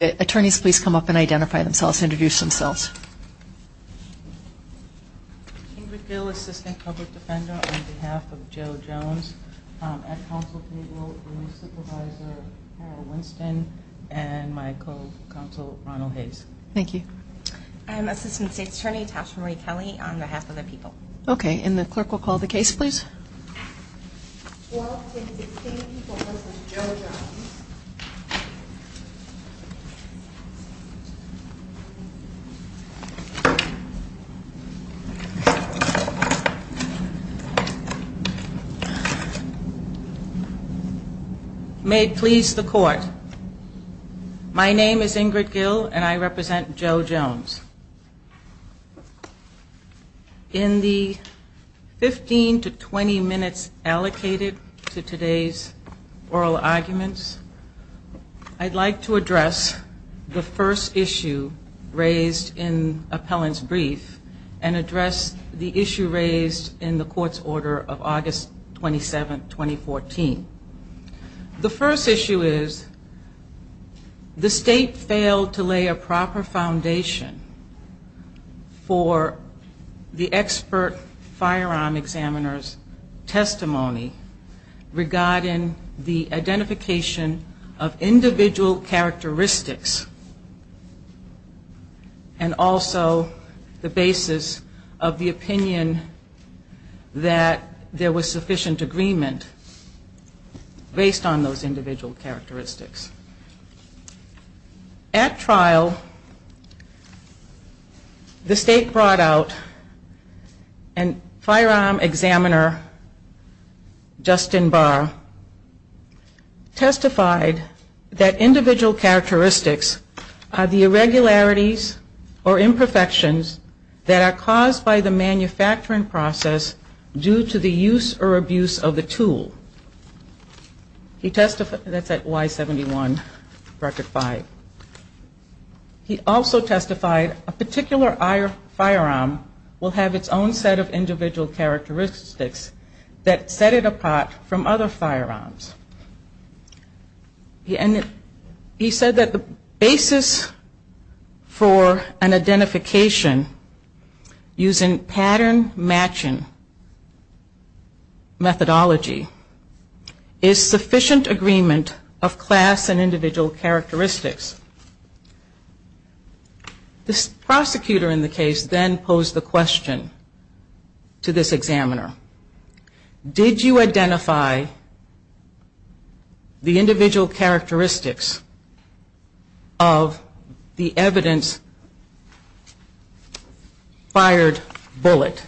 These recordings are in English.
Attorneys please come up and identify themselves and introduce themselves. Ingrid Bill, Assistant Public Defender on behalf of Joe Jones. At counsel table, my supervisor, Carol Winston, and my co-counsel, Ronald Hayes. Thank you. I'm Assistant State's Attorney Tasha Marie Kelly on behalf of the people. May it please the court, my name is Ingrid Gill and I represent Joe Jones. In the 15 to 20 minutes allocated to today's oral arguments, I'd like to address the first issue raised in appellant's brief and address the issue raised in the court's order of August 27, 2014. The first issue is the state failed to lay a proper foundation for the expert firearm examiner's testimony regarding the identification of individual characteristics and also the basis of the opinion that there was sufficient agreement based on those individual characteristics. At trial, the state brought out a firearm examiner, Justin Barr, testified that individual characteristics are the irregularities or imperfections that are caused by the manufacturing process due to the use or abuse of the tool. He testified, that's at Y71, record five. He also testified a particular firearm will have its own set of individual characteristics that set it apart from other firearms. He said that the basis for an identification using pattern matching methodology is sufficient agreement of class and individual characteristics. This prosecutor in the case then posed the question to this examiner. Did you identify the individual characteristics of the evidence fired bullet?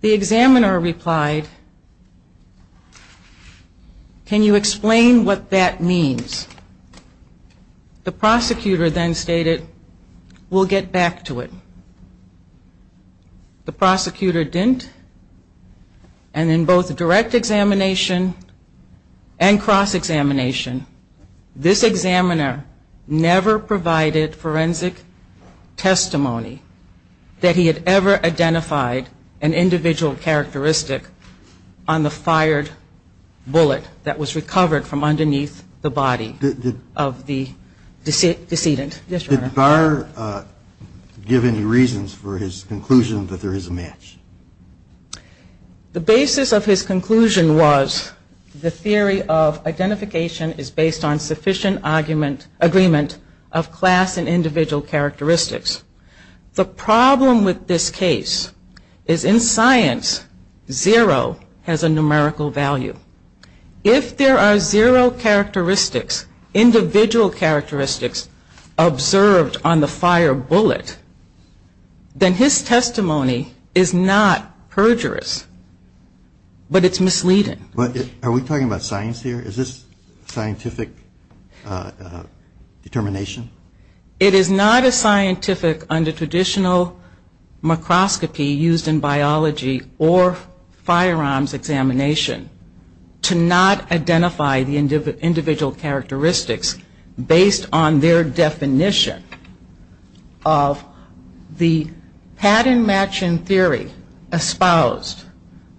The examiner replied, can you explain what that means? The prosecutor then stated, we'll get back to it. The prosecutor didn't and in both direct examination and cross examination, this examiner never provided forensic testimony that he had ever identified an individual characteristic on the fired bullet that was recovered from underneath the body of the decedent. Did Barr give any reasons for his conclusion that there is a match? The basis of his conclusion was the theory of identification is based on sufficient agreement of class and individual characteristics. The problem with this case is in science, zero has a numerical value. If there are zero characteristics, individual characteristics observed on the fired bullet, then his testimony is not perjurous, but it's misleading. Are we talking about science here? Is this scientific determination? It is not as scientific under traditional microscopy used in biology or firearms examination to not identify the individual characteristics based on their definition of the pattern matching theory espoused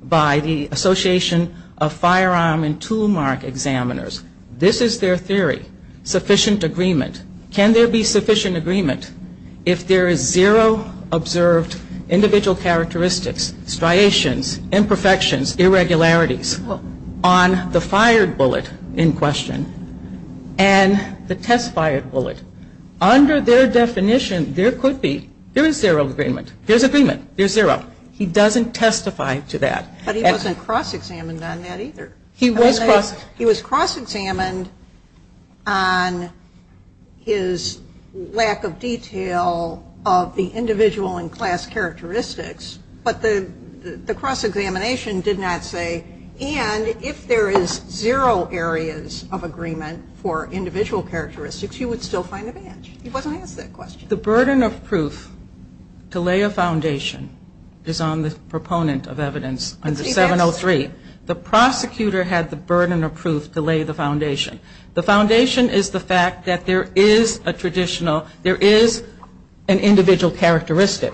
by the Association of Firearm and Toolmark Examiners. This is their theory, sufficient agreement. Can there be sufficient agreement if there is zero observed individual characteristics, striations, imperfections, irregularities on the fired bullet in question and the test fired bullet? Under their definition, there could be. There is zero agreement. There's agreement. There's zero. He doesn't testify to that. But he wasn't cross examined on that either. He was cross examined on his lack of detail of the individual and class characteristics, but the cross examination did not say, and if there is zero areas of agreement for individual characteristics, he would still find a match. He wasn't asked that question. The burden of proof to lay a foundation is on the proponent of evidence under 703. The prosecutor had the burden of proof to lay the foundation. The foundation is the fact that there is a traditional, there is an individual characteristic.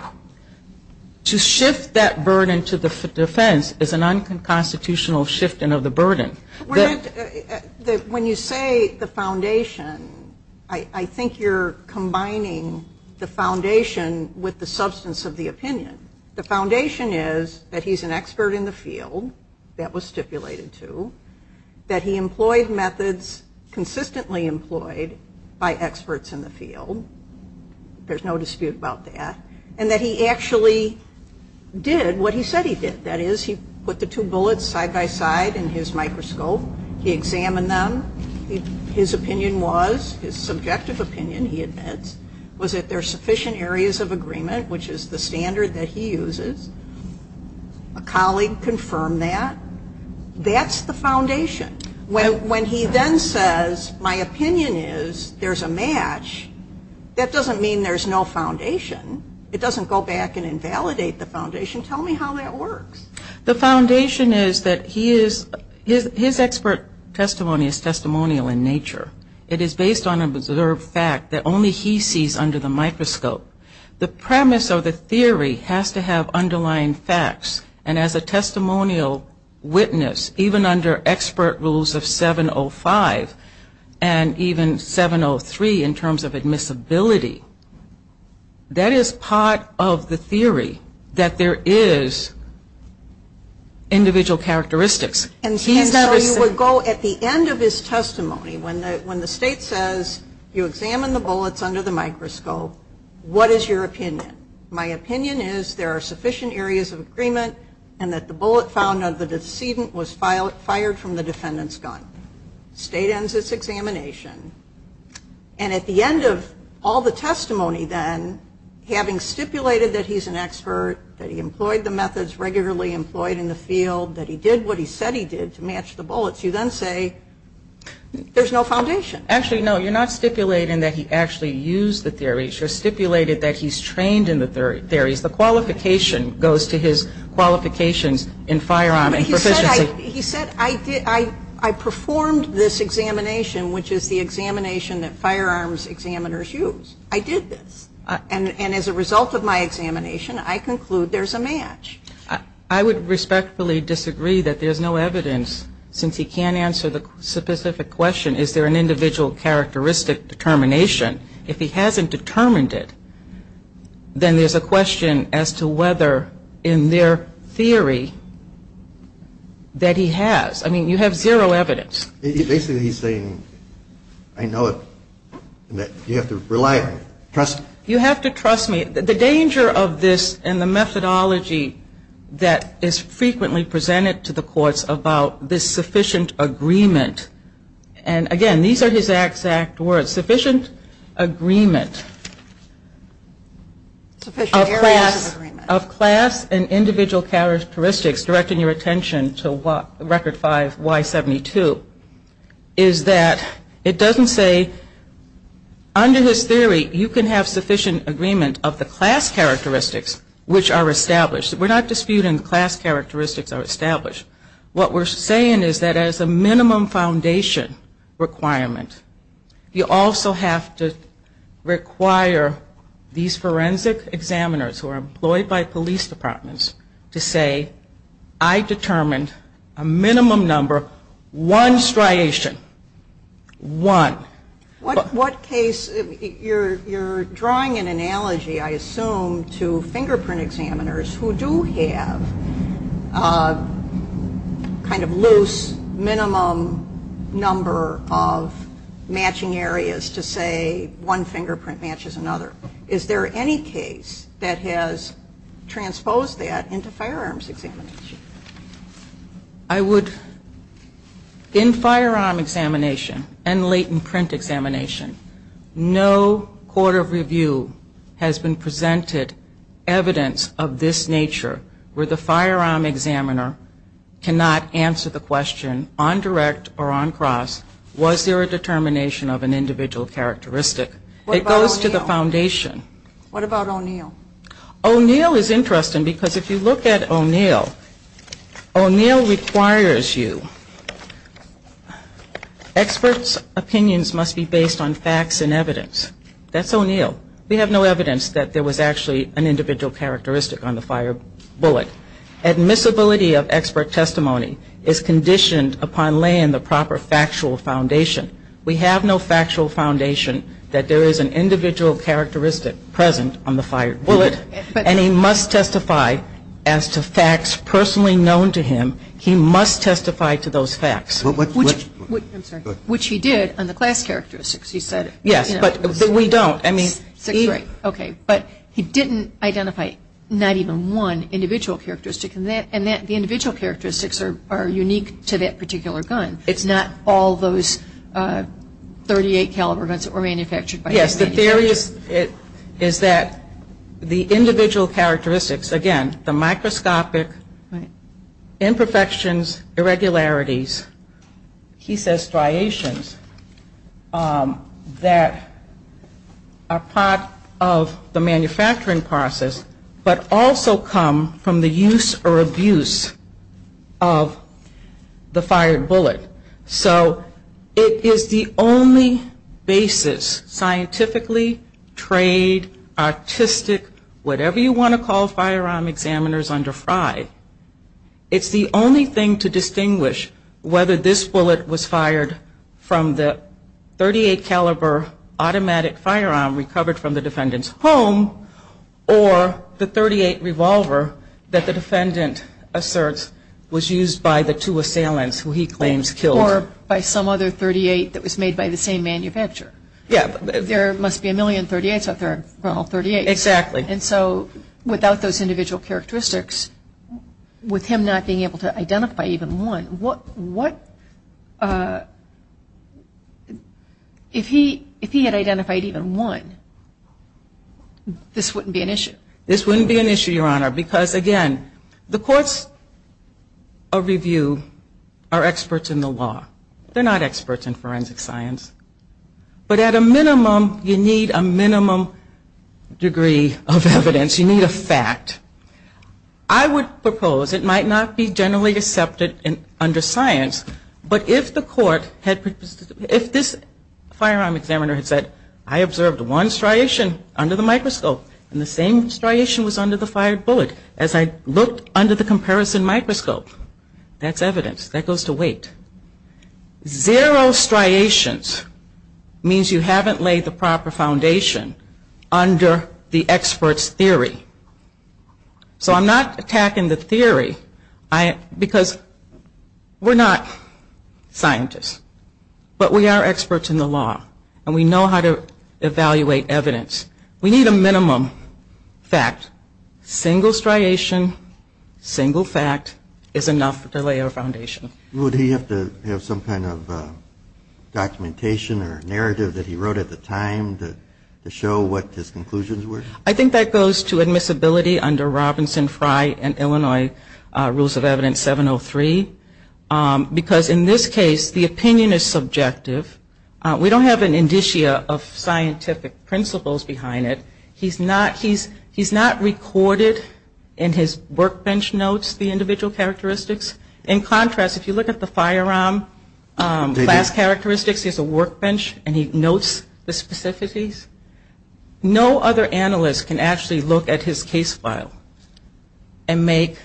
To shift that burden to the defense is an unconstitutional shifting of the burden. When you say the foundation, I think you're combining the foundation with the substance of the opinion. The foundation is that he's an expert in the field. That was stipulated too. That he employed methods consistently employed by experts in the field. There's no dispute about that. And that he actually did what he said he did. That is, he put the two bullets side by side in his microscope. He examined them. His opinion was, his subjective opinion, he admits, was that there are sufficient areas of agreement, which is the standard that he uses. A colleague confirmed that. That's the foundation. When he then says, my opinion is there's a match, that doesn't mean there's no foundation. It doesn't go back and invalidate the foundation. Tell me how that works. The foundation is that he is, his expert testimony is testimonial in nature. It is based on an observed fact that only he sees under the microscope. The premise of the theory has to have underlying facts. And as a testimonial witness, even under expert rules of 705 and even 703 in terms of admissibility, that is part of the theory that there is individual characteristics. And so you would go at the end of his testimony, when the state says, you examined the bullets under the microscope, what is your opinion? My opinion is there are sufficient areas of agreement and that the bullet found of the decedent was fired from the defendant's gun. State ends its examination. And at the end of all the testimony then, having stipulated that he's an expert, that he employed the methods regularly employed in the field, that he did what he said he did to match the bullets, you then say, there's no foundation. Actually, no, you're not stipulating that he actually used the theories. You're stipulating that he's trained in the theories. The qualification goes to his qualifications in firearm and proficiency. But he said I performed this examination, which is the examination that firearms examiners use. I did this. And as a result of my examination, I conclude there's a match. I would respectfully disagree that there's no evidence, since he can't answer the specific question, is there an individual characteristic determination. If he hasn't determined it, then there's a question as to whether in their theory that he has. I mean, you have zero evidence. Basically, he's saying I know it and that you have to rely on it, trust me. You have to trust me. The danger of this and the methodology that is frequently presented to the courts about this sufficient agreement, and again, these are his exact words, sufficient agreement of class and individual characteristics, directing your attention to Record 5Y72, is that it doesn't say under his theory, you can have sufficient agreement of the class characteristics, which are established. We're not disputing class characteristics are established. What we're saying is that as a minimum foundation requirement, you also have to require these forensic examiners who are employed by police departments to say, I determined a minimum number, one striation. One. What case, you're drawing an analogy, I assume, to fingerprint examiners who do have kind of loose minimum number of matching areas to say one fingerprint matches another. Is there any case that has transposed that into firearms examination? I would, in firearm examination and latent print examination, no court of review has been presented evidence of this nature where the firearm examiner cannot answer the question on direct or on cross, was there a determination of an individual characteristic? It goes to the foundation. What about O'Neill? O'Neill is interesting because if you look at O'Neill, O'Neill requires you, experts' opinions must be based on facts and evidence. That's O'Neill. We have no evidence that there was actually an individual characteristic on the fire bullet. Admissibility of expert testimony is conditioned upon laying the proper factual foundation. We have no factual foundation that there is an individual characteristic present on the fire bullet, and he must testify as to facts personally known to him. He must testify to those facts. Which he did on the class characteristics. Yes, but we don't. Okay. But he didn't identify not even one individual characteristic, and the individual characteristics are unique to that particular gun. It's not all those .38 caliber guns that were manufactured by him. Yes, the theory is that the individual characteristics, again, the microscopic imperfections, irregularities, he says striations that are part of the manufacturing process but also come from the use or abuse of the fired bullet. So it is the only basis, scientifically, trade, artistic, whatever you want to call firearm examiners under FRI, it's the only thing to distinguish whether this bullet was fired from the .38 caliber automatic firearm that was recovered from the defendant's home or the .38 revolver that the defendant asserts was used by the two assailants who he claims killed. Or by some other .38 that was made by the same manufacturer. Yes. There must be a million .38s out there. There are all .38s. Exactly. And so without those individual characteristics, with him not being able to identify even one, what, if he had identified even one, this wouldn't be an issue? This wouldn't be an issue, Your Honor, because, again, the courts of review are experts in the law. They're not experts in forensic science. But at a minimum, you need a minimum degree of evidence. You need a fact. I would propose it might not be generally accepted under science, but if the court had, if this firearm examiner had said, I observed one striation under the microscope and the same striation was under the fired bullet. As I looked under the comparison microscope, that's evidence. That goes to wait. Zero striations means you haven't laid the proper foundation under the expert's theory. So I'm not attacking the theory because we're not scientists. But we are experts in the law, and we know how to evaluate evidence. We need a minimum fact. Single striation, single fact is enough to lay our foundation. Would he have to have some kind of documentation or narrative that he wrote at the time to show what his conclusions were? I think that goes to admissibility under Robinson, Frey, and Illinois Rules of Evidence 703. Because in this case, the opinion is subjective. We don't have an indicia of scientific principles behind it. He's not recorded in his workbench notes the individual characteristics. In contrast, if you look at the firearm class characteristics, he has a workbench and he notes the specificities. No other analyst can actually look at his case file and make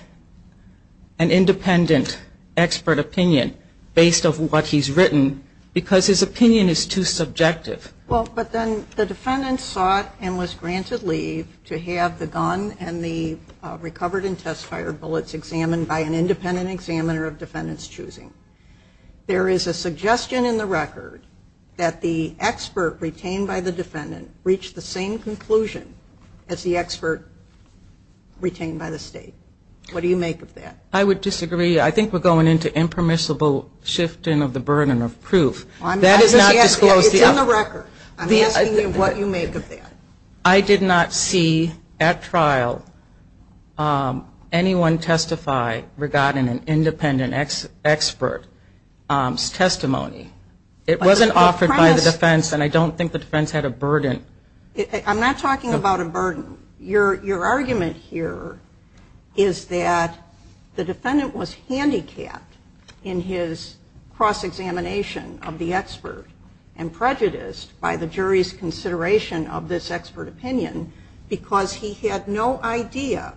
an independent expert opinion based on what he's written because his opinion is too subjective. Well, but then the defendant sought and was granted leave to have the gun and the recovered and test fired bullets examined by an independent examiner of defendant's choosing. There is a suggestion in the record that the expert retained by the defendant reached the same conclusion as the expert retained by the state. What do you make of that? I would disagree. I think we're going into impermissible shifting of the burden of proof. That is not disclosed yet. It's in the record. I'm asking you what you make of that. I did not see at trial anyone testify regarding an independent expert's testimony. It wasn't offered by the defense, and I don't think the defense had a burden. I'm not talking about a burden. Your argument here is that the defendant was handicapped in his cross-examination of the expert and prejudiced by the jury's consideration of this expert opinion because he had no idea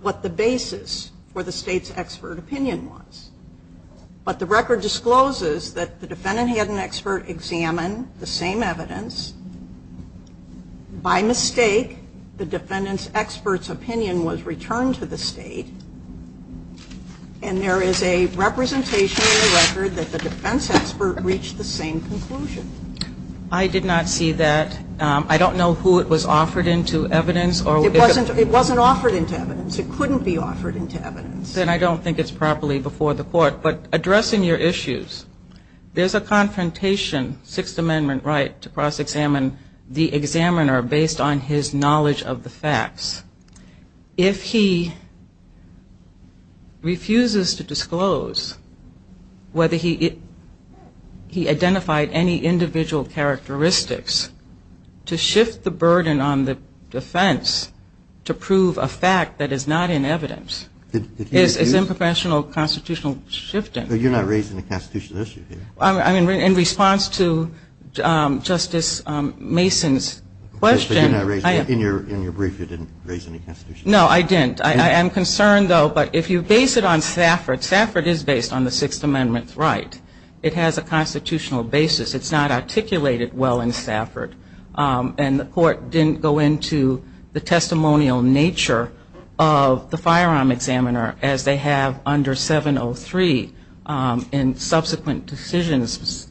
what the basis for the state's expert opinion was. But the record discloses that the defendant had an expert examine the same evidence. By mistake, the defendant's expert's opinion was returned to the state, and there is a representation in the record that the defense expert reached the same conclusion. I did not see that. I don't know who it was offered into evidence. It wasn't offered into evidence. It couldn't be offered into evidence. Then I don't think it's properly before the Court. But addressing your issues, there's a confrontation, Sixth Amendment right, if he refuses to disclose whether he identified any individual characteristics to shift the burden on the defense to prove a fact that is not in evidence is unprofessional constitutional shifting. But you're not raising a constitutional issue here. In response to Justice Mason's question. In your brief, you didn't raise any constitutional issues. No, I didn't. I am concerned, though, but if you base it on Stafford, Stafford is based on the Sixth Amendment right. It has a constitutional basis. It's not articulated well in Stafford, and the Court didn't go into the testimonial nature of the firearm examiner, as they have under 703 in subsequent decisions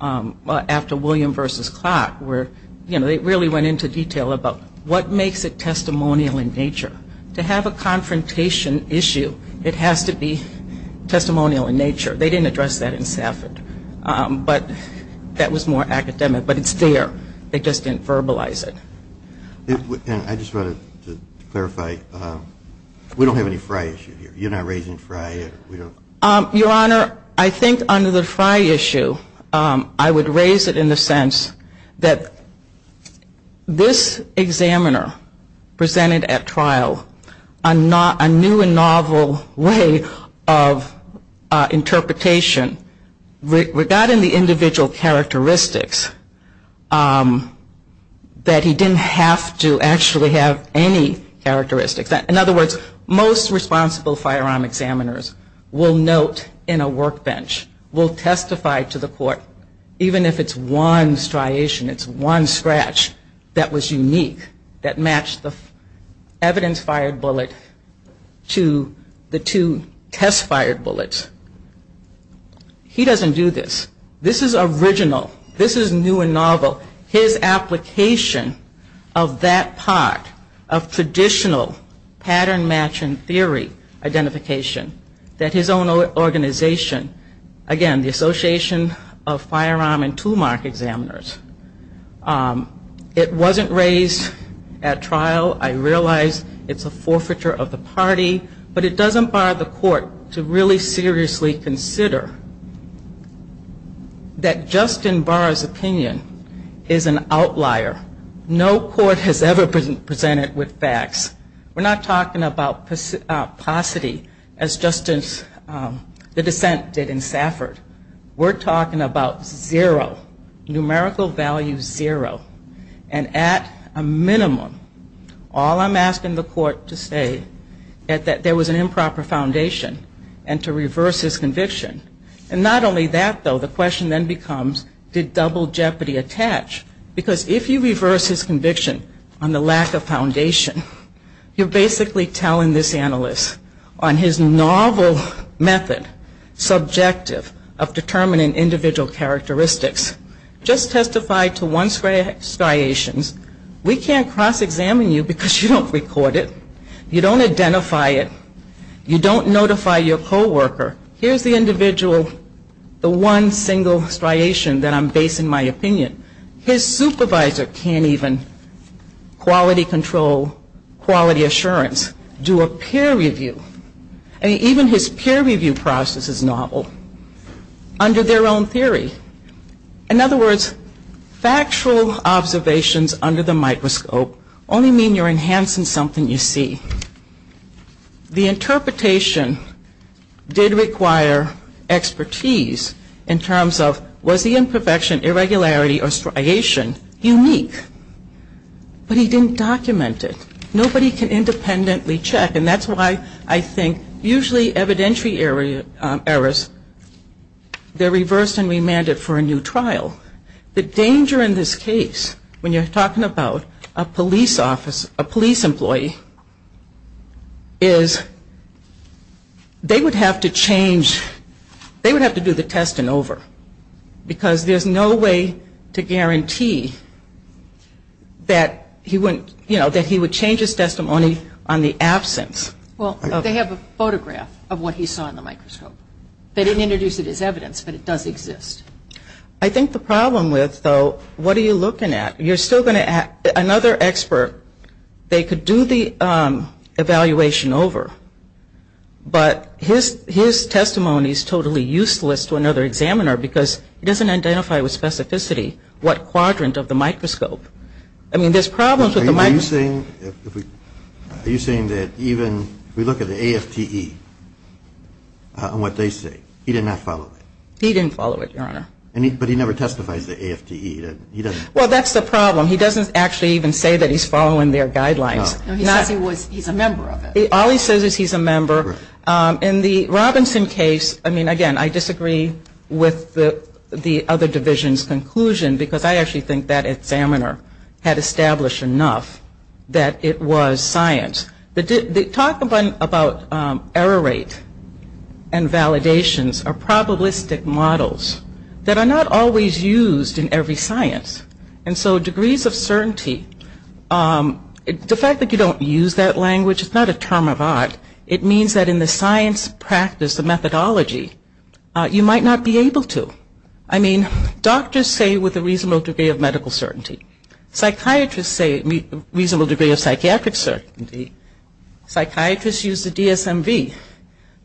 after William v. Clark where, you know, they really went into detail about what makes it testimonial in nature. To have a confrontation issue, it has to be testimonial in nature. They didn't address that in Stafford. But that was more academic. But it's there. They just didn't verbalize it. I just wanted to clarify, we don't have any Frye issue here. You're not raising Frye. Your Honor, I think under the Frye issue, I would raise it in the sense that this examiner presented at trial a new and novel way of interpretation. Regarding the individual characteristics, that he didn't have to actually have any characteristics. In other words, most responsible firearm examiners will note in a workbench, will testify to the Court, even if it's one striation, it's one scratch that was unique, that matched the evidence-fired bullet to the two test-fired bullets. He doesn't do this. This is new and novel. So his application of that part of traditional pattern matching theory identification, that his own organization, again, the Association of Firearm and Toolmark Examiners, it wasn't raised at trial. I realize it's a forfeiture of the party. But it doesn't bar the Court to really seriously consider that Justin Barr's opinion is an outlier. No court has ever presented with facts. We're not talking about paucity as the dissent did in Safford. We're talking about zero, numerical value zero. And at a minimum, all I'm asking the Court to say is that there was an improper foundation and to reverse his conviction. And not only that, though, the question then becomes, did double jeopardy attach? Because if you reverse his conviction on the lack of foundation, you're basically telling this analyst on his novel method, subjective, of determining individual characteristics, just testify to one striations. We can't cross-examine you because you don't record it. You don't identify it. You don't notify your co-worker. Here's the individual, the one single striation that I'm basing my opinion. His supervisor can't even quality control, quality assurance, do a peer review. Even his peer review process is novel under their own theory. In other words, factual observations under the microscope only mean you're enhancing something you see. The interpretation did require expertise in terms of, was the imperfection, irregularity, or striation unique? But he didn't document it. Nobody can independently check. And that's why I think usually evidentiary errors, they're reversed and remanded for a new trial. The danger in this case, when you're talking about a police employee, is they would have to change, they would have to do the test and over. Because there's no way to guarantee that he wouldn't, you know, that he would change his testimony on the absence. Well, they have a photograph of what he saw in the microscope. They didn't introduce it as evidence, but it does exist. I think the problem with, though, what are you looking at? You're still going to ask another expert. They could do the evaluation over, but his testimony is totally useless to another examiner because he doesn't identify with specificity what quadrant of the microscope. I mean, there's problems with the microscope. Are you saying that even if we look at the AFTE on what they say, he did not follow it? He didn't follow it, Your Honor. But he never testifies to AFTE. Well, that's the problem. He doesn't actually even say that he's following their guidelines. No, he says he's a member of it. All he says is he's a member. In the Robinson case, I mean, again, I disagree with the other division's conclusion because I actually think that examiner had established enough that it was science. The talk about error rate and validations are probabilistic models that are not always used in every science. And so degrees of certainty, the fact that you don't use that language, which is not a term of art, it means that in the science practice, the methodology, you might not be able to. I mean, doctors say with a reasonable degree of medical certainty. Psychiatrists say a reasonable degree of psychiatric certainty. Psychiatrists use the DSMV.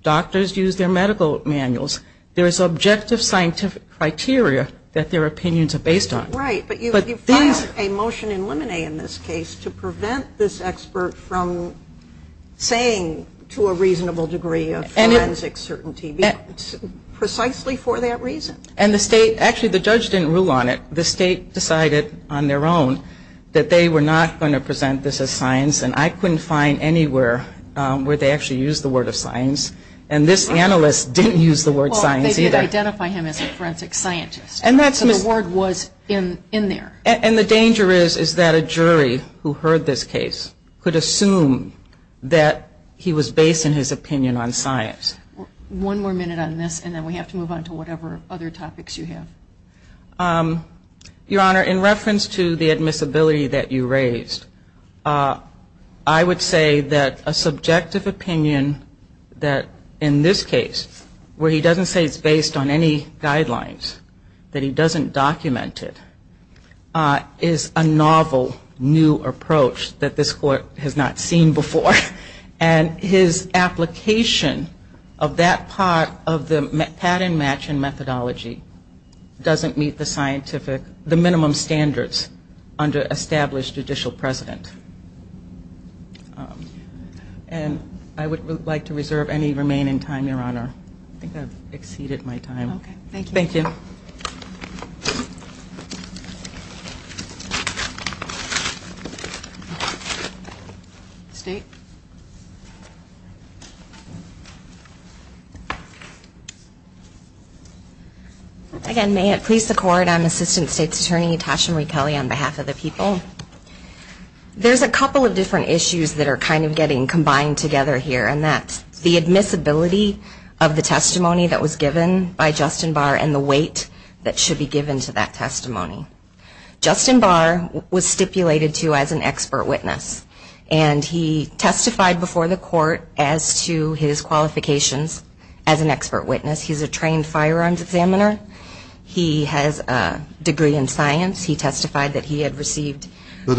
Doctors use their medical manuals. There is objective scientific criteria that their opinions are based on. Right, but you filed a motion in Lemonet in this case to prevent this expert from saying to a reasonable degree of forensic certainty precisely for that reason. And the state, actually the judge didn't rule on it. The state decided on their own that they were not going to present this as science. And I couldn't find anywhere where they actually used the word of science. And this analyst didn't use the word science either. Well, they did identify him as a forensic scientist. So the word was in there. And the danger is that a jury who heard this case could assume that he was based in his opinion on science. One more minute on this, and then we have to move on to whatever other topics you have. Your Honor, in reference to the admissibility that you raised, I would say that a subjective opinion that in this case, where he doesn't say it's based on any guidelines, that he doesn't document it, is a novel new approach that this Court has not seen before. And his application of that part of the pattern match and methodology doesn't meet the scientific, the minimum standards under established judicial precedent. And I would like to reserve any remaining time, Your Honor. I think I've exceeded my time. Okay. Thank you. Thank you. State. Again, may it please the Court, I'm Assistant State's Attorney Tasha Marie Kelly on behalf of the people. There's a couple of different issues that are kind of getting combined together here, and that's the admissibility of the testimony that was given by Justin Barr and the weight that should be given to that testimony. Justin Barr was stipulated to as an expert witness, and he testified before the Court as to his qualifications as an expert witness. He's a trained firearms examiner. He has a degree in science. He testified that he had received two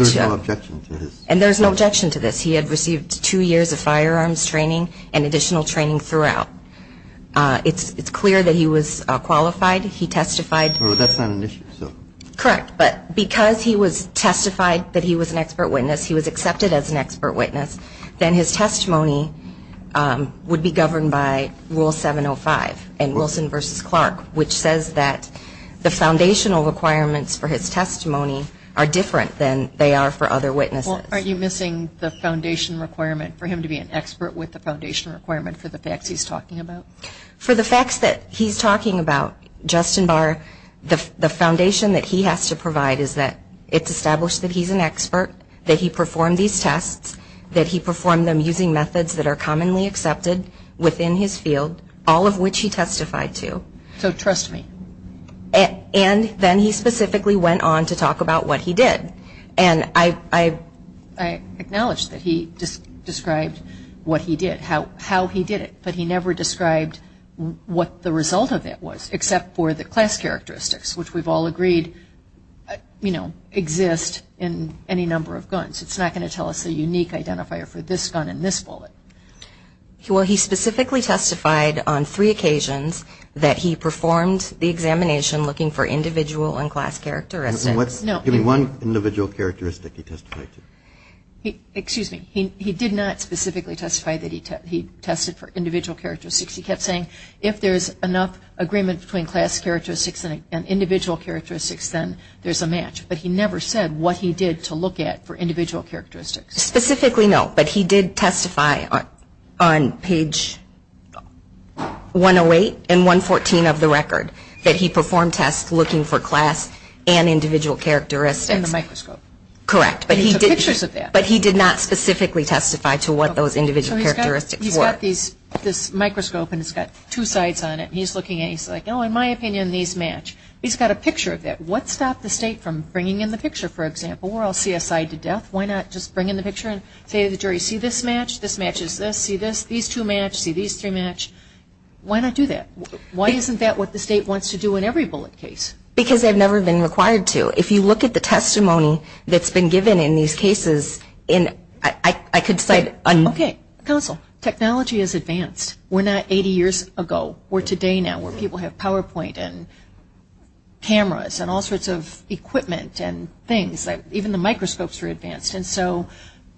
years of firearms training and additional training throughout. It's clear that he was qualified. He testified. That's not an issue. Correct. But because he was testified that he was an expert witness, he was accepted as an expert witness, then his testimony would be governed by Rule 705 in Wilson v. Clark, which says that the foundational requirements for his testimony are different than they are for other witnesses. Well, aren't you missing the foundation requirement for him to be an expert with the foundation requirement for the facts he's talking about? For the facts that he's talking about, Justin Barr, the foundation that he has to provide is that it's established that he's an expert, that he performed these tests, that he performed them using methods that are commonly accepted within his field, all of which he testified to. So trust me. And then he specifically went on to talk about what he did. And I acknowledge that he described what he did, how he did it, but he never described what the result of it was except for the class characteristics, which we've all agreed exist in any number of guns. It's not going to tell us a unique identifier for this gun and this bullet. Well, he specifically testified on three occasions that he performed the examination looking for individual and class characteristics. Give me one individual characteristic he testified to. Excuse me. He did not specifically testify that he tested for individual characteristics. He kept saying if there's enough agreement between class characteristics and individual characteristics, then there's a match. But he never said what he did to look at for individual characteristics. Specifically, no, but he did testify on page 108 and 114 of the record that he performed tests looking for class and individual characteristics. In the microscope. Correct. He took pictures of that. But he did not specifically testify to what those individual characteristics were. He's got this microscope and it's got two sides on it. He's looking at it and he's like, oh, in my opinion, these match. He's got a picture of that. What stopped the state from bringing in the picture, for example, where I'll see a side to death? Why not just bring in the picture and say to the jury, see this match? This matches this. See this. These two match. See these three match. Why not do that? Why isn't that what the state wants to do in every bullet case? Because they've never been required to. If you look at the testimony that's been given in these cases, I could cite un- Okay. Counsel, technology has advanced. We're not 80 years ago. We're today now where people have PowerPoint and cameras and all sorts of equipment and things. Even the microscopes are advanced. And so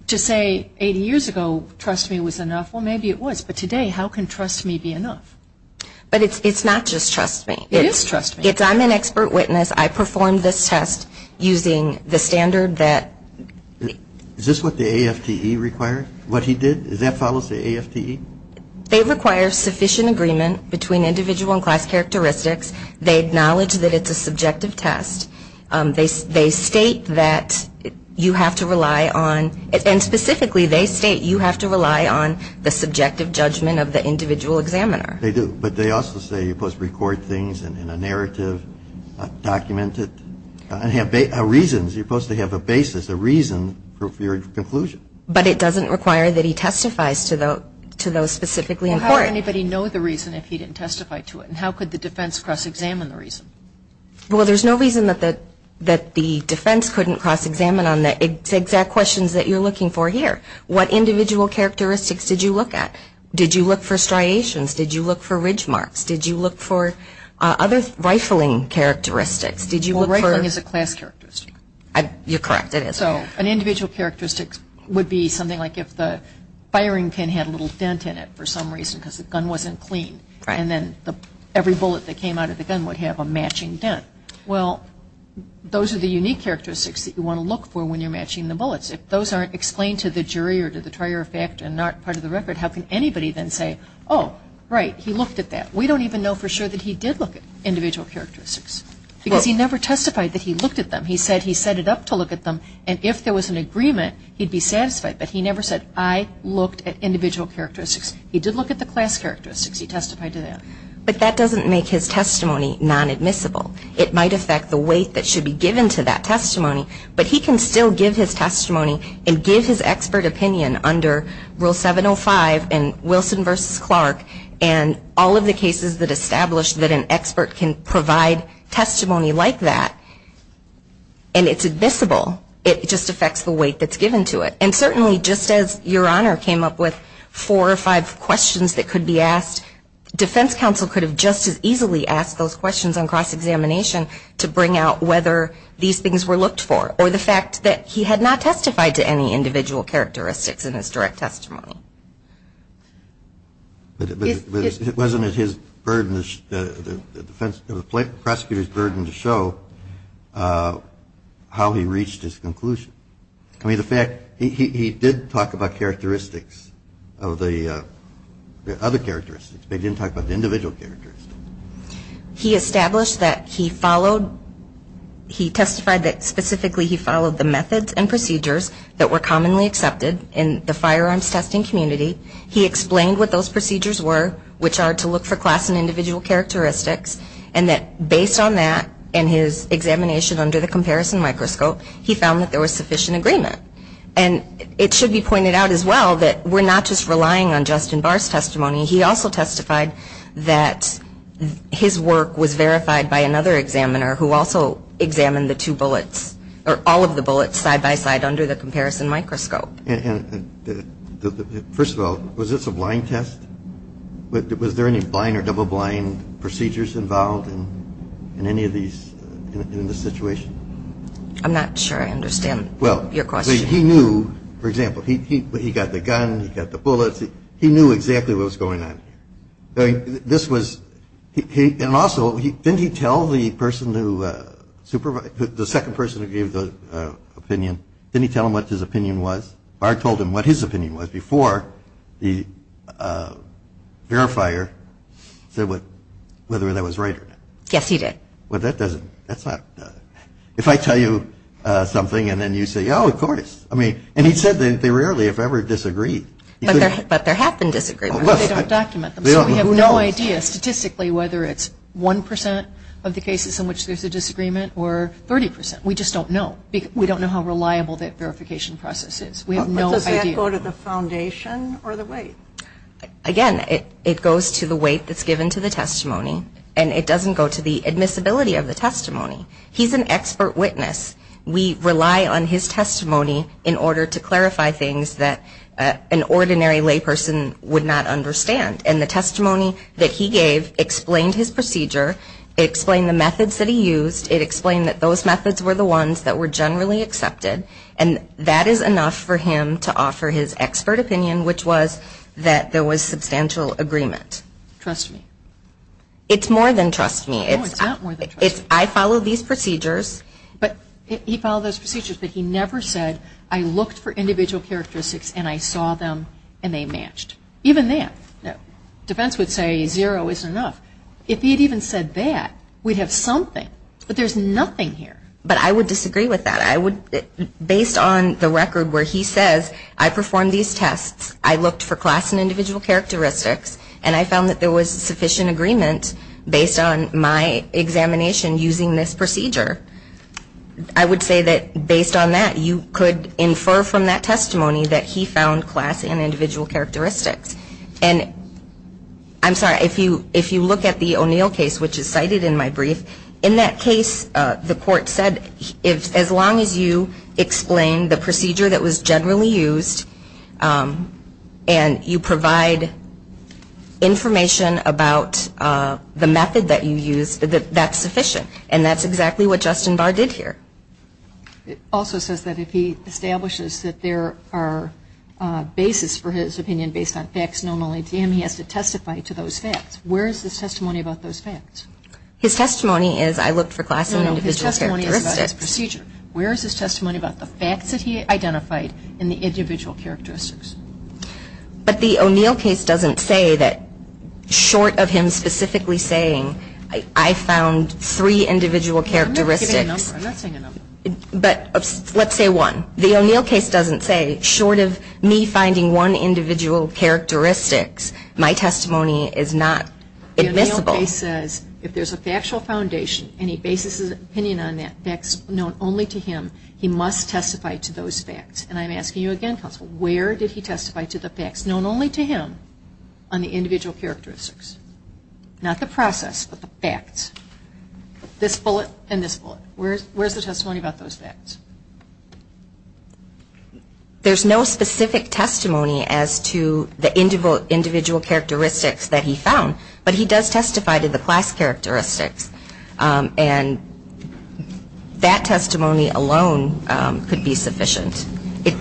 to say 80 years ago trust me was enough, well, maybe it was. But today, how can trust me be enough? But it's not just trust me. It is trust me. It's I'm an expert witness. I performed this test using the standard that- Is this what the AFTE required, what he did? Does that follow the AFTE? They require sufficient agreement between individual and class characteristics. They acknowledge that it's a subjective test. They state that you have to rely on, and specifically they state you have to rely on the subjective judgment of the individual examiner. They do. But they also say you're supposed to record things in a narrative, document it, and have reasons. You're supposed to have a basis, a reason for your conclusion. But it doesn't require that he testifies to those specifically in court. How would anybody know the reason if he didn't testify to it? And how could the defense cross-examine the reason? Well, there's no reason that the defense couldn't cross-examine on the exact questions that you're looking for here. What individual characteristics did you look at? Did you look for striations? Did you look for ridge marks? Did you look for other rifling characteristics? Did you look for- Well, rifling is a class characteristic. You're correct, it is. So an individual characteristic would be something like if the firing pin had a little dent in it for some reason because the gun wasn't clean. And then every bullet that came out of the gun would have a matching dent. Well, those are the unique characteristics that you want to look for when you're matching the bullets. If those aren't explained to the jury or to the trier of fact and not part of the record, how can anybody then say, oh, right, he looked at that? We don't even know for sure that he did look at individual characteristics because he never testified that he looked at them. He said he set it up to look at them, and if there was an agreement, he'd be satisfied. But he never said, I looked at individual characteristics. He did look at the class characteristics. He testified to that. But that doesn't make his testimony non-admissible. It might affect the weight that should be given to that testimony. But he can still give his testimony and give his expert opinion under Rule 705 and Wilson v. Clark and all of the cases that establish that an expert can provide testimony like that, and it's admissible. It just affects the weight that's given to it. And certainly, just as Your Honor came up with four or five questions that could be asked, defense counsel could have just as easily asked those questions on cross-examination to bring out whether these things were looked for or the fact that he had not testified to any individual characteristics in his direct testimony. But wasn't it his burden, the defense, the prosecutor's burden to show how he reached his conclusion? I mean, the fact he did talk about characteristics of the other characteristics, but he didn't talk about the individual characteristics. He established that he followed, he testified that specifically he followed the methods and procedures that were commonly accepted in the firearms testing community. He explained what those procedures were, which are to look for class and individual characteristics, and that based on that and his examination under the comparison microscope, he found that there was sufficient agreement. And it should be pointed out as well that we're not just relying on Justin Barr's testimony. He also testified that his work was verified by another examiner who also examined the two bullets or all of the bullets side-by-side under the comparison microscope. First of all, was this a blind test? Was there any blind or double-blind procedures involved in any of these in this situation? I'm not sure I understand your question. Well, he knew, for example, he got the gun, he got the bullets. He knew exactly what was going on here. This was – and also, didn't he tell the person who – the second person who gave the opinion, didn't he tell him what his opinion was? Barr told him what his opinion was before the verifier said whether that was right or not. Yes, he did. Well, that doesn't – that's not – if I tell you something and then you say, oh, of course. I mean – and he said that they rarely, if ever, disagreed. But there have been disagreements. They don't document them. So we have no idea statistically whether it's 1% of the cases in which there's a disagreement or 30%. We just don't know. We don't know how reliable that verification process is. We have no idea. But does that go to the foundation or the weight? Again, it goes to the weight that's given to the testimony, and it doesn't go to the admissibility of the testimony. He's an expert witness. We rely on his testimony in order to clarify things that an ordinary layperson would not understand. And the testimony that he gave explained his procedure. It explained the methods that he used. It explained that those methods were the ones that were generally accepted. And that is enough for him to offer his expert opinion, which was that there was substantial agreement. Trust me. It's more than trust me. No, it's not more than trust me. It's I follow these procedures. But he followed those procedures, but he never said, I looked for individual characteristics and I saw them and they matched. Even then, defense would say zero isn't enough. If he had even said that, we'd have something. But there's nothing here. But I would disagree with that. Based on the record where he says, I performed these tests, I looked for class and individual characteristics, and I found that there was sufficient agreement based on my examination using this procedure. I would say that based on that, you could infer from that testimony that he found class and individual characteristics. And I'm sorry, if you look at the O'Neill case, which is cited in my brief, in that case, the court said, as long as you explain the procedure that was generally used and you provide information about the method that you used, that's sufficient. And that's exactly what Justin Barr did here. It also says that if he establishes that there are bases for his opinion based on facts known only to him, he has to testify to those facts. Where is his testimony about those facts? His testimony is, I looked for class and individual characteristics. No, no, his testimony is about this procedure. Where is his testimony about the facts that he identified and the individual characteristics? But the O'Neill case doesn't say that, short of him specifically saying, I found three individual characteristics. I'm not giving a number. I'm not saying a number. But let's say one. The O'Neill case doesn't say, short of me finding one individual characteristics, my testimony is not admissible. The O'Neill case says, if there's a factual foundation and he bases his opinion on facts known only to him, he must testify to those facts. And I'm asking you again, Counsel, where did he testify to the facts known only to him on the individual characteristics? Not the process, but the facts. This bullet and this bullet. Where is the testimony about those facts? There's no specific testimony as to the individual characteristics that he found. But he does testify to the class characteristics. And that testimony alone could be sufficient.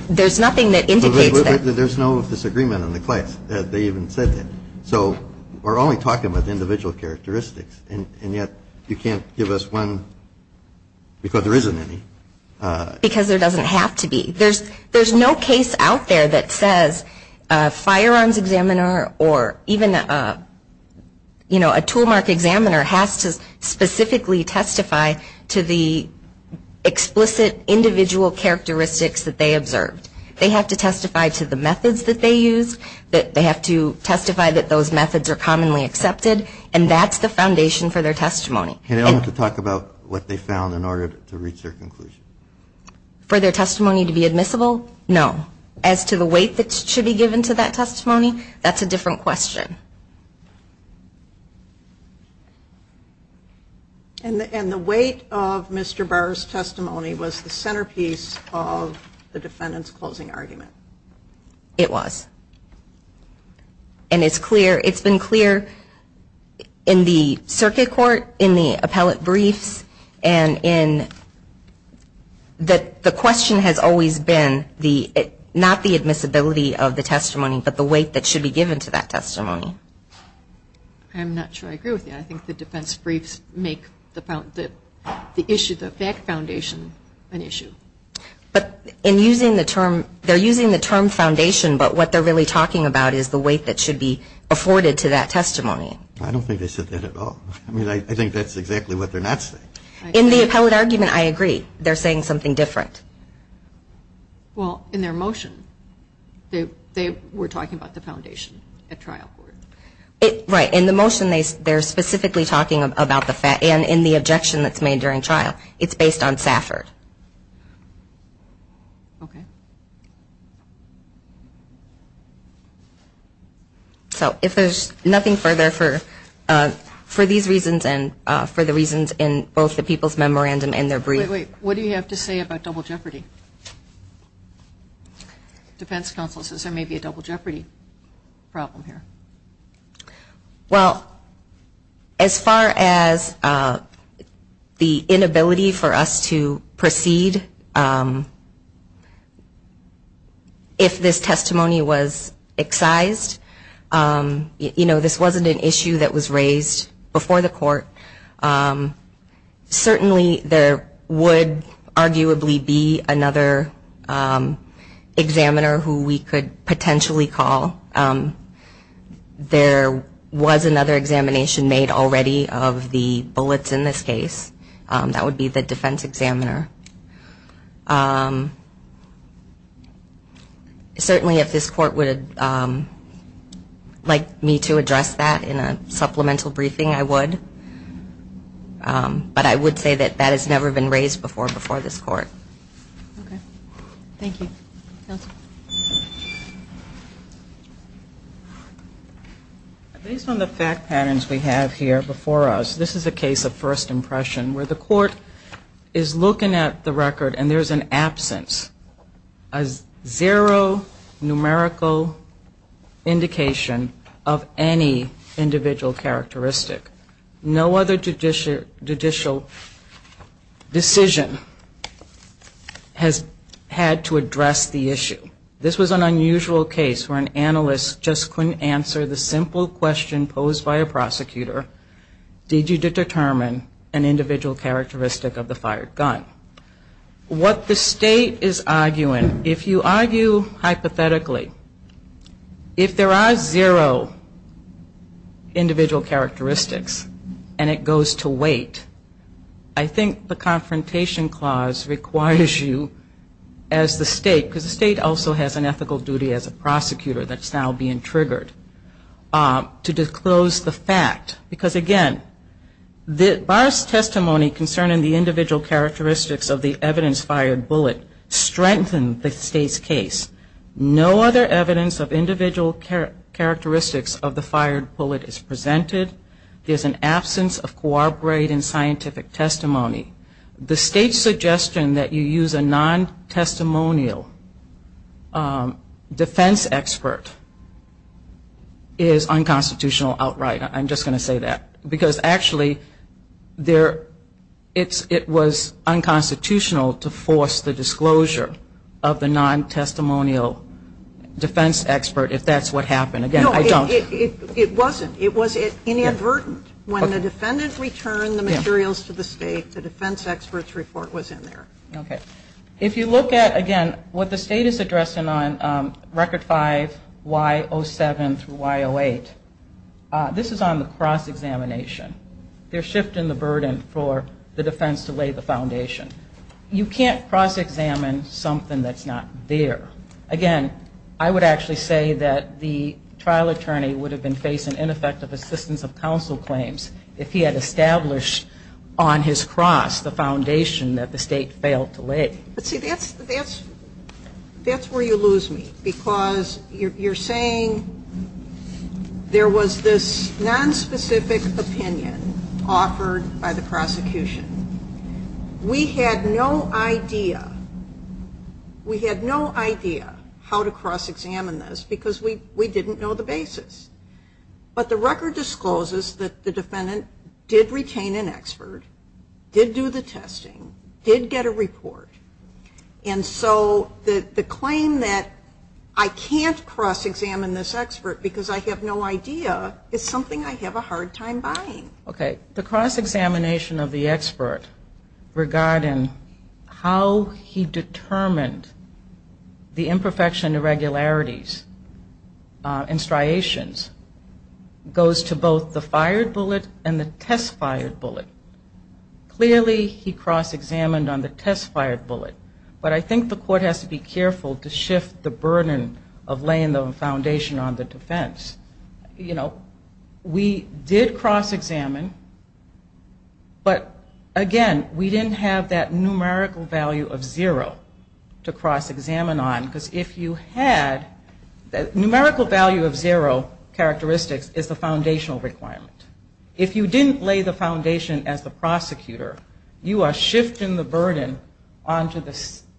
There's nothing that indicates that. There's no disagreement in the class that they even said that. So we're only talking about the individual characteristics. And yet you can't give us one because there isn't any. Because there doesn't have to be. There's no case out there that says a firearms examiner or even, you know, a tool mark examiner has to specifically testify to the explicit individual characteristics that they observed. They have to testify to the methods that they used. They have to testify that those methods are commonly accepted. And that's the foundation for their testimony. And they don't have to talk about what they found in order to reach their conclusion. For their testimony to be admissible? No. As to the weight that should be given to that testimony? That's a different question. And the weight of Mr. Barr's testimony was the centerpiece of the defendant's closing argument. It was. And it's clear, it's been clear in the circuit court, in the appellate briefs, and in that the question has always been the, not the admissibility of the testimony, but the weight that should be given to that testimony. I'm not sure I agree with you. I think the defense briefs make the issue, the fact foundation, an issue. But in using the term, they're using the term foundation, but what they're really talking about is the weight that should be afforded to that testimony. I don't think they said that at all. I mean, I think that's exactly what they're not saying. In the appellate argument, I agree. They're saying something different. Well, in their motion, they were talking about the foundation at trial court. Right. In the motion, they're specifically talking about the fact, and in the objection that's made during trial. It's based on Safford. Okay. So if there's nothing further for these reasons and for the reasons in both the people's memorandum and their brief. Wait, wait. What do you have to say about double jeopardy? Defense counsel says there may be a double jeopardy problem here. Well, as far as the inability for us to proceed, if this testimony was excised, you know, this wasn't an issue that was raised before the court. Certainly there would arguably be another examiner who we could potentially call. There was another examination made already of the bullets in this case. That would be the defense examiner. Certainly if this court would like me to address that in a supplemental briefing, I would. But I would say that that has never been raised before before this court. Okay. Based on the fact patterns we have here before us, this is a case of first impression where the court is looking at the record and there's an absence, a zero numerical indication of any individual characteristic. No other judicial decision has had to address the issue. This was an unusual case where an analyst just couldn't answer the simple question posed by a prosecutor. Did you determine an individual characteristic of the fired gun? What the state is arguing, if you argue hypothetically, if there are zero individual characteristics and it goes to wait, I think the confrontation clause requires you as the state, because the state also has an ethical duty as a prosecutor that's now being triggered, to disclose the fact, because again, Barr's testimony concerning the individual characteristics of the evidence fired bullet strengthened the state's case. No other evidence of individual characteristics of the fired bullet is presented. There's an absence of corroborating scientific testimony. The state's suggestion that you use a non-testimonial defense expert is unconstitutional outright. I'm just going to say that. Because actually, it was unconstitutional to force the disclosure of the non-testimonial defense expert if that's what happened. Again, I don't. No, it wasn't. It was inadvertent. When the defendant returned the materials to the state, the defense expert's report was in there. If you look at, again, what the state is addressing on Record 5, Y07 through Y08, this is on the cross-examination. They're shifting the burden for the defense to lay the foundation. You can't cross-examine something that's not there. Again, I would actually say that the trial attorney would have been facing ineffective assistance of counsel claims if he had established a trial to lay. But see, that's where you lose me. Because you're saying there was this nonspecific opinion offered by the prosecution. We had no idea. We had no idea how to cross-examine this because we didn't know the basis. But the record discloses that the defendant did retain an expert, did do the testing, did get a report. And so the claim that I can't cross-examine this expert because I have no idea is something I have a hard time buying. Okay, the cross-examination of the expert regarding how he determined the imperfection and irregularities and striations goes to both the fired bullet and the test-fired bullet. Clearly he cross-examined on the test-fired bullet. But I think the court has to be careful to shift the burden of laying the foundation on the defense. You know, we did cross-examine, but again, we didn't have that numerical value of zero to cross-examine on. Because if you had, the numerical value of zero characteristics is the foundational requirement. If you didn't lay the foundation as the prosecutor, you are shifting the burden onto the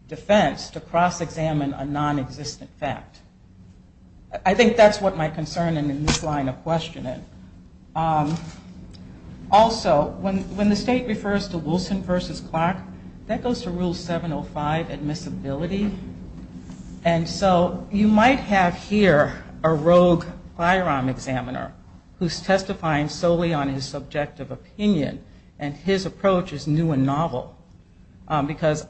defense to cross-examine a non-existent fact. I think that's what my concern and in this line of questioning. Also, when the state refers to Wilson versus Clark, that goes to rule 705, admissibility. And so you might have here a rogue firearm examiner who is testifying solely on his subjective opinion. And his approach is new and novel because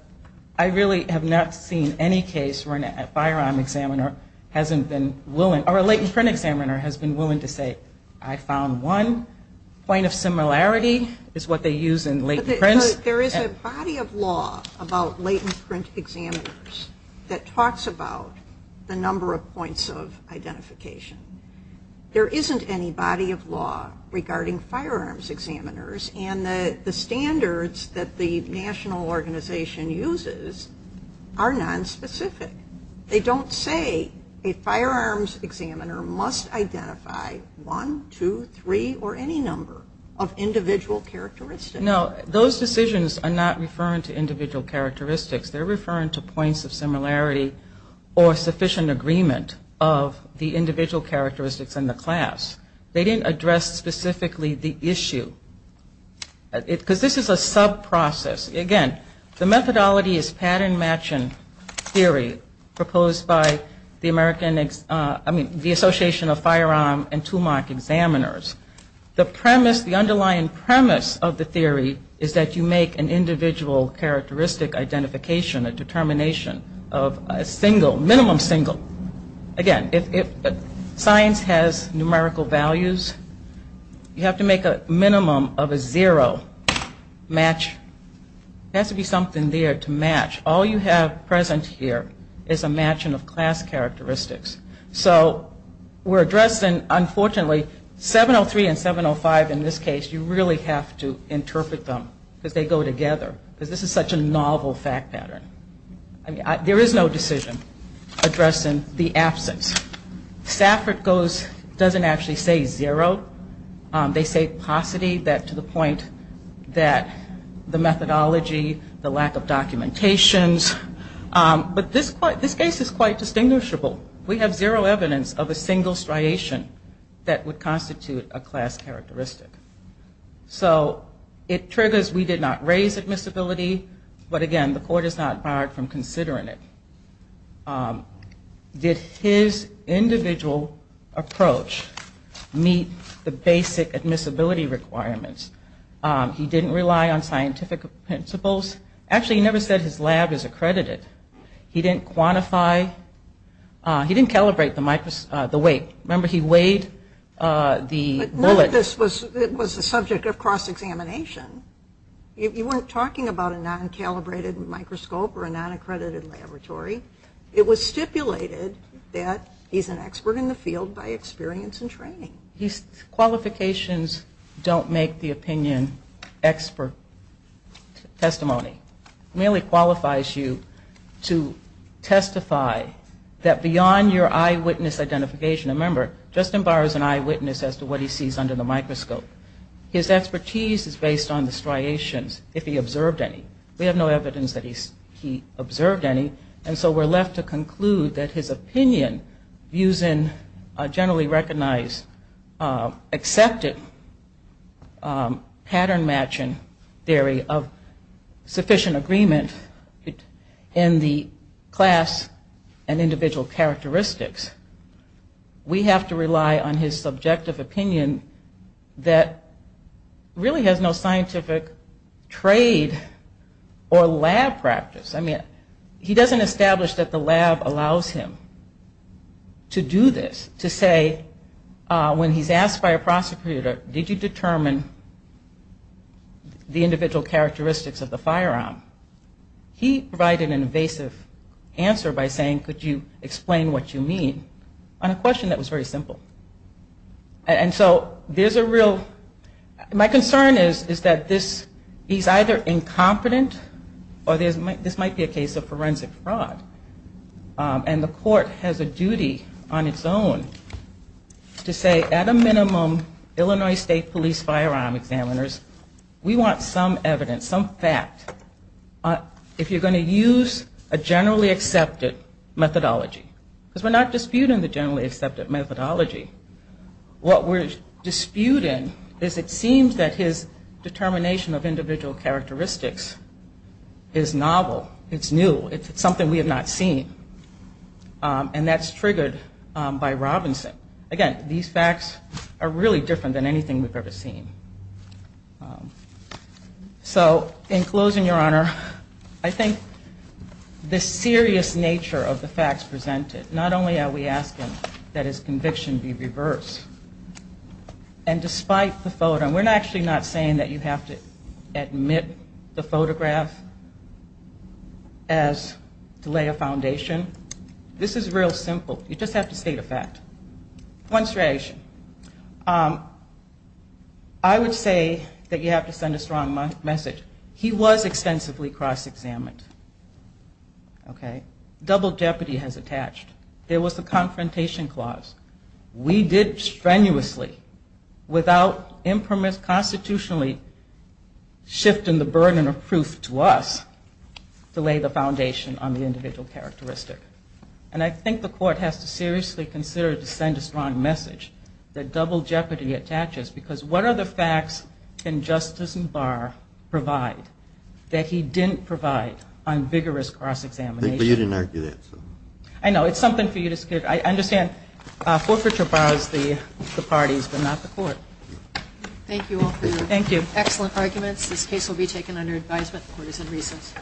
I really have not seen any case where a firearm examiner hasn't been willing or a latent print examiner hasn't been willing to say, I found one point of similarity is what they use in latent prints. There is a body of law about latent print examiners that talks about the number of points of identification. There isn't any body of law regarding firearms examiners and the standards that the national organization uses are nonspecific. They don't say a firearms examiner must identify one, two, three, or any number of individual characteristics. No, those decisions are not referring to individual characteristics. They are referring to points of similarity or sufficient agreement of the individual characteristics in the class. They didn't address specifically the issue. Because this is a sub-process. Again, the methodology is pattern matching theory proposed by the American, I mean, the Association of Firearm and Tumac Examiners. The premise, the underlying premise of the theory is that you make an individual characteristic identification, a determination of a single, minimum single. Again, if science has numerical values, you have to make a minimum of a zero match. There has to be something there to match. All you have present here is a matching of class characteristics. So we're addressing, unfortunately, 703 and 705 in this case, you really have to interpret them because they go together. Because this is such a novel fact pattern. There is no decision addressing the absence. Stafford doesn't actually say zero. They say paucity to the point that the methodology, the lack of documentations, but this case is quite distinguishable. We have zero evidence of a single striation that would constitute a class characteristic. So it triggers we did not raise admissibility, but again, the court is not barred from considering it. Did his individual approach meet the basic admissibility requirements? He didn't rely on scientific principles. Actually, he never said his lab is accredited. He didn't quantify, he didn't calibrate the weight. Remember, he weighed the bullet. It was a subject of cross-examination. You weren't talking about a non-calibrated microscope or a non-accredited laboratory. It was stipulated that he's an expert in the field by experience and training. Qualifications don't make the opinion expert testimony. It merely qualifies you to testify that beyond your eyewitness identification, remember, Justin Barr is an eyewitness as to what he sees under the microscope. His expertise is based on the striations, if he observed any. We have no evidence that he observed any, and so we're left to conclude that his opinion using a generally recognized accepted pattern matching theory of sufficient agreement in the class and individual characteristics, we have to rely on his subjective opinion to determine whether or not he observed any. He doesn't establish that the lab allows him to do this, to say when he's asked by a prosecutor, did you determine the individual characteristics of the firearm, he provided an evasive answer by saying could you explain what you mean on a question that was very simple. And so there's a real, my concern is that this, he's either incompetent or this might be a case of forensic fraud. And the court has a duty on its own to say at a minimum, Illinois State Police firearm examiners, we want some evidence, some fact, if you're going to use a generally accepted methodology. What we're disputing is it seems that his determination of individual characteristics is novel, it's new, it's something we have not seen, and that's triggered by Robinson. Again, these facts are really different than anything we've ever seen. So in closing, Your Honor, I think the serious nature of the facts presented, not only are we asking that his conviction be reversed, and despite the photo, and we're actually not saying that you have to admit the photograph as to lay a foundation, this is real simple. You just have to state a fact. I would say that you have to send a strong message. He was extensively cross-examined. Double jeopardy has attached. There was a confrontation clause. We did strenuously, without impermissibly, constitutionally shifting the burden of proof to us to lay the foundation on the individual characteristic. And I think the court has to seriously consider to send a strong message that double jeopardy attaches, because what other facts can Justice Barr provide that he didn't provide on vigorous cross-examination? I know, it's something for you to... I understand forfeiture bars the parties, but not the court. Thank you all for your excellent arguments. This case will be taken under advisement. The court is in recess. Thank you.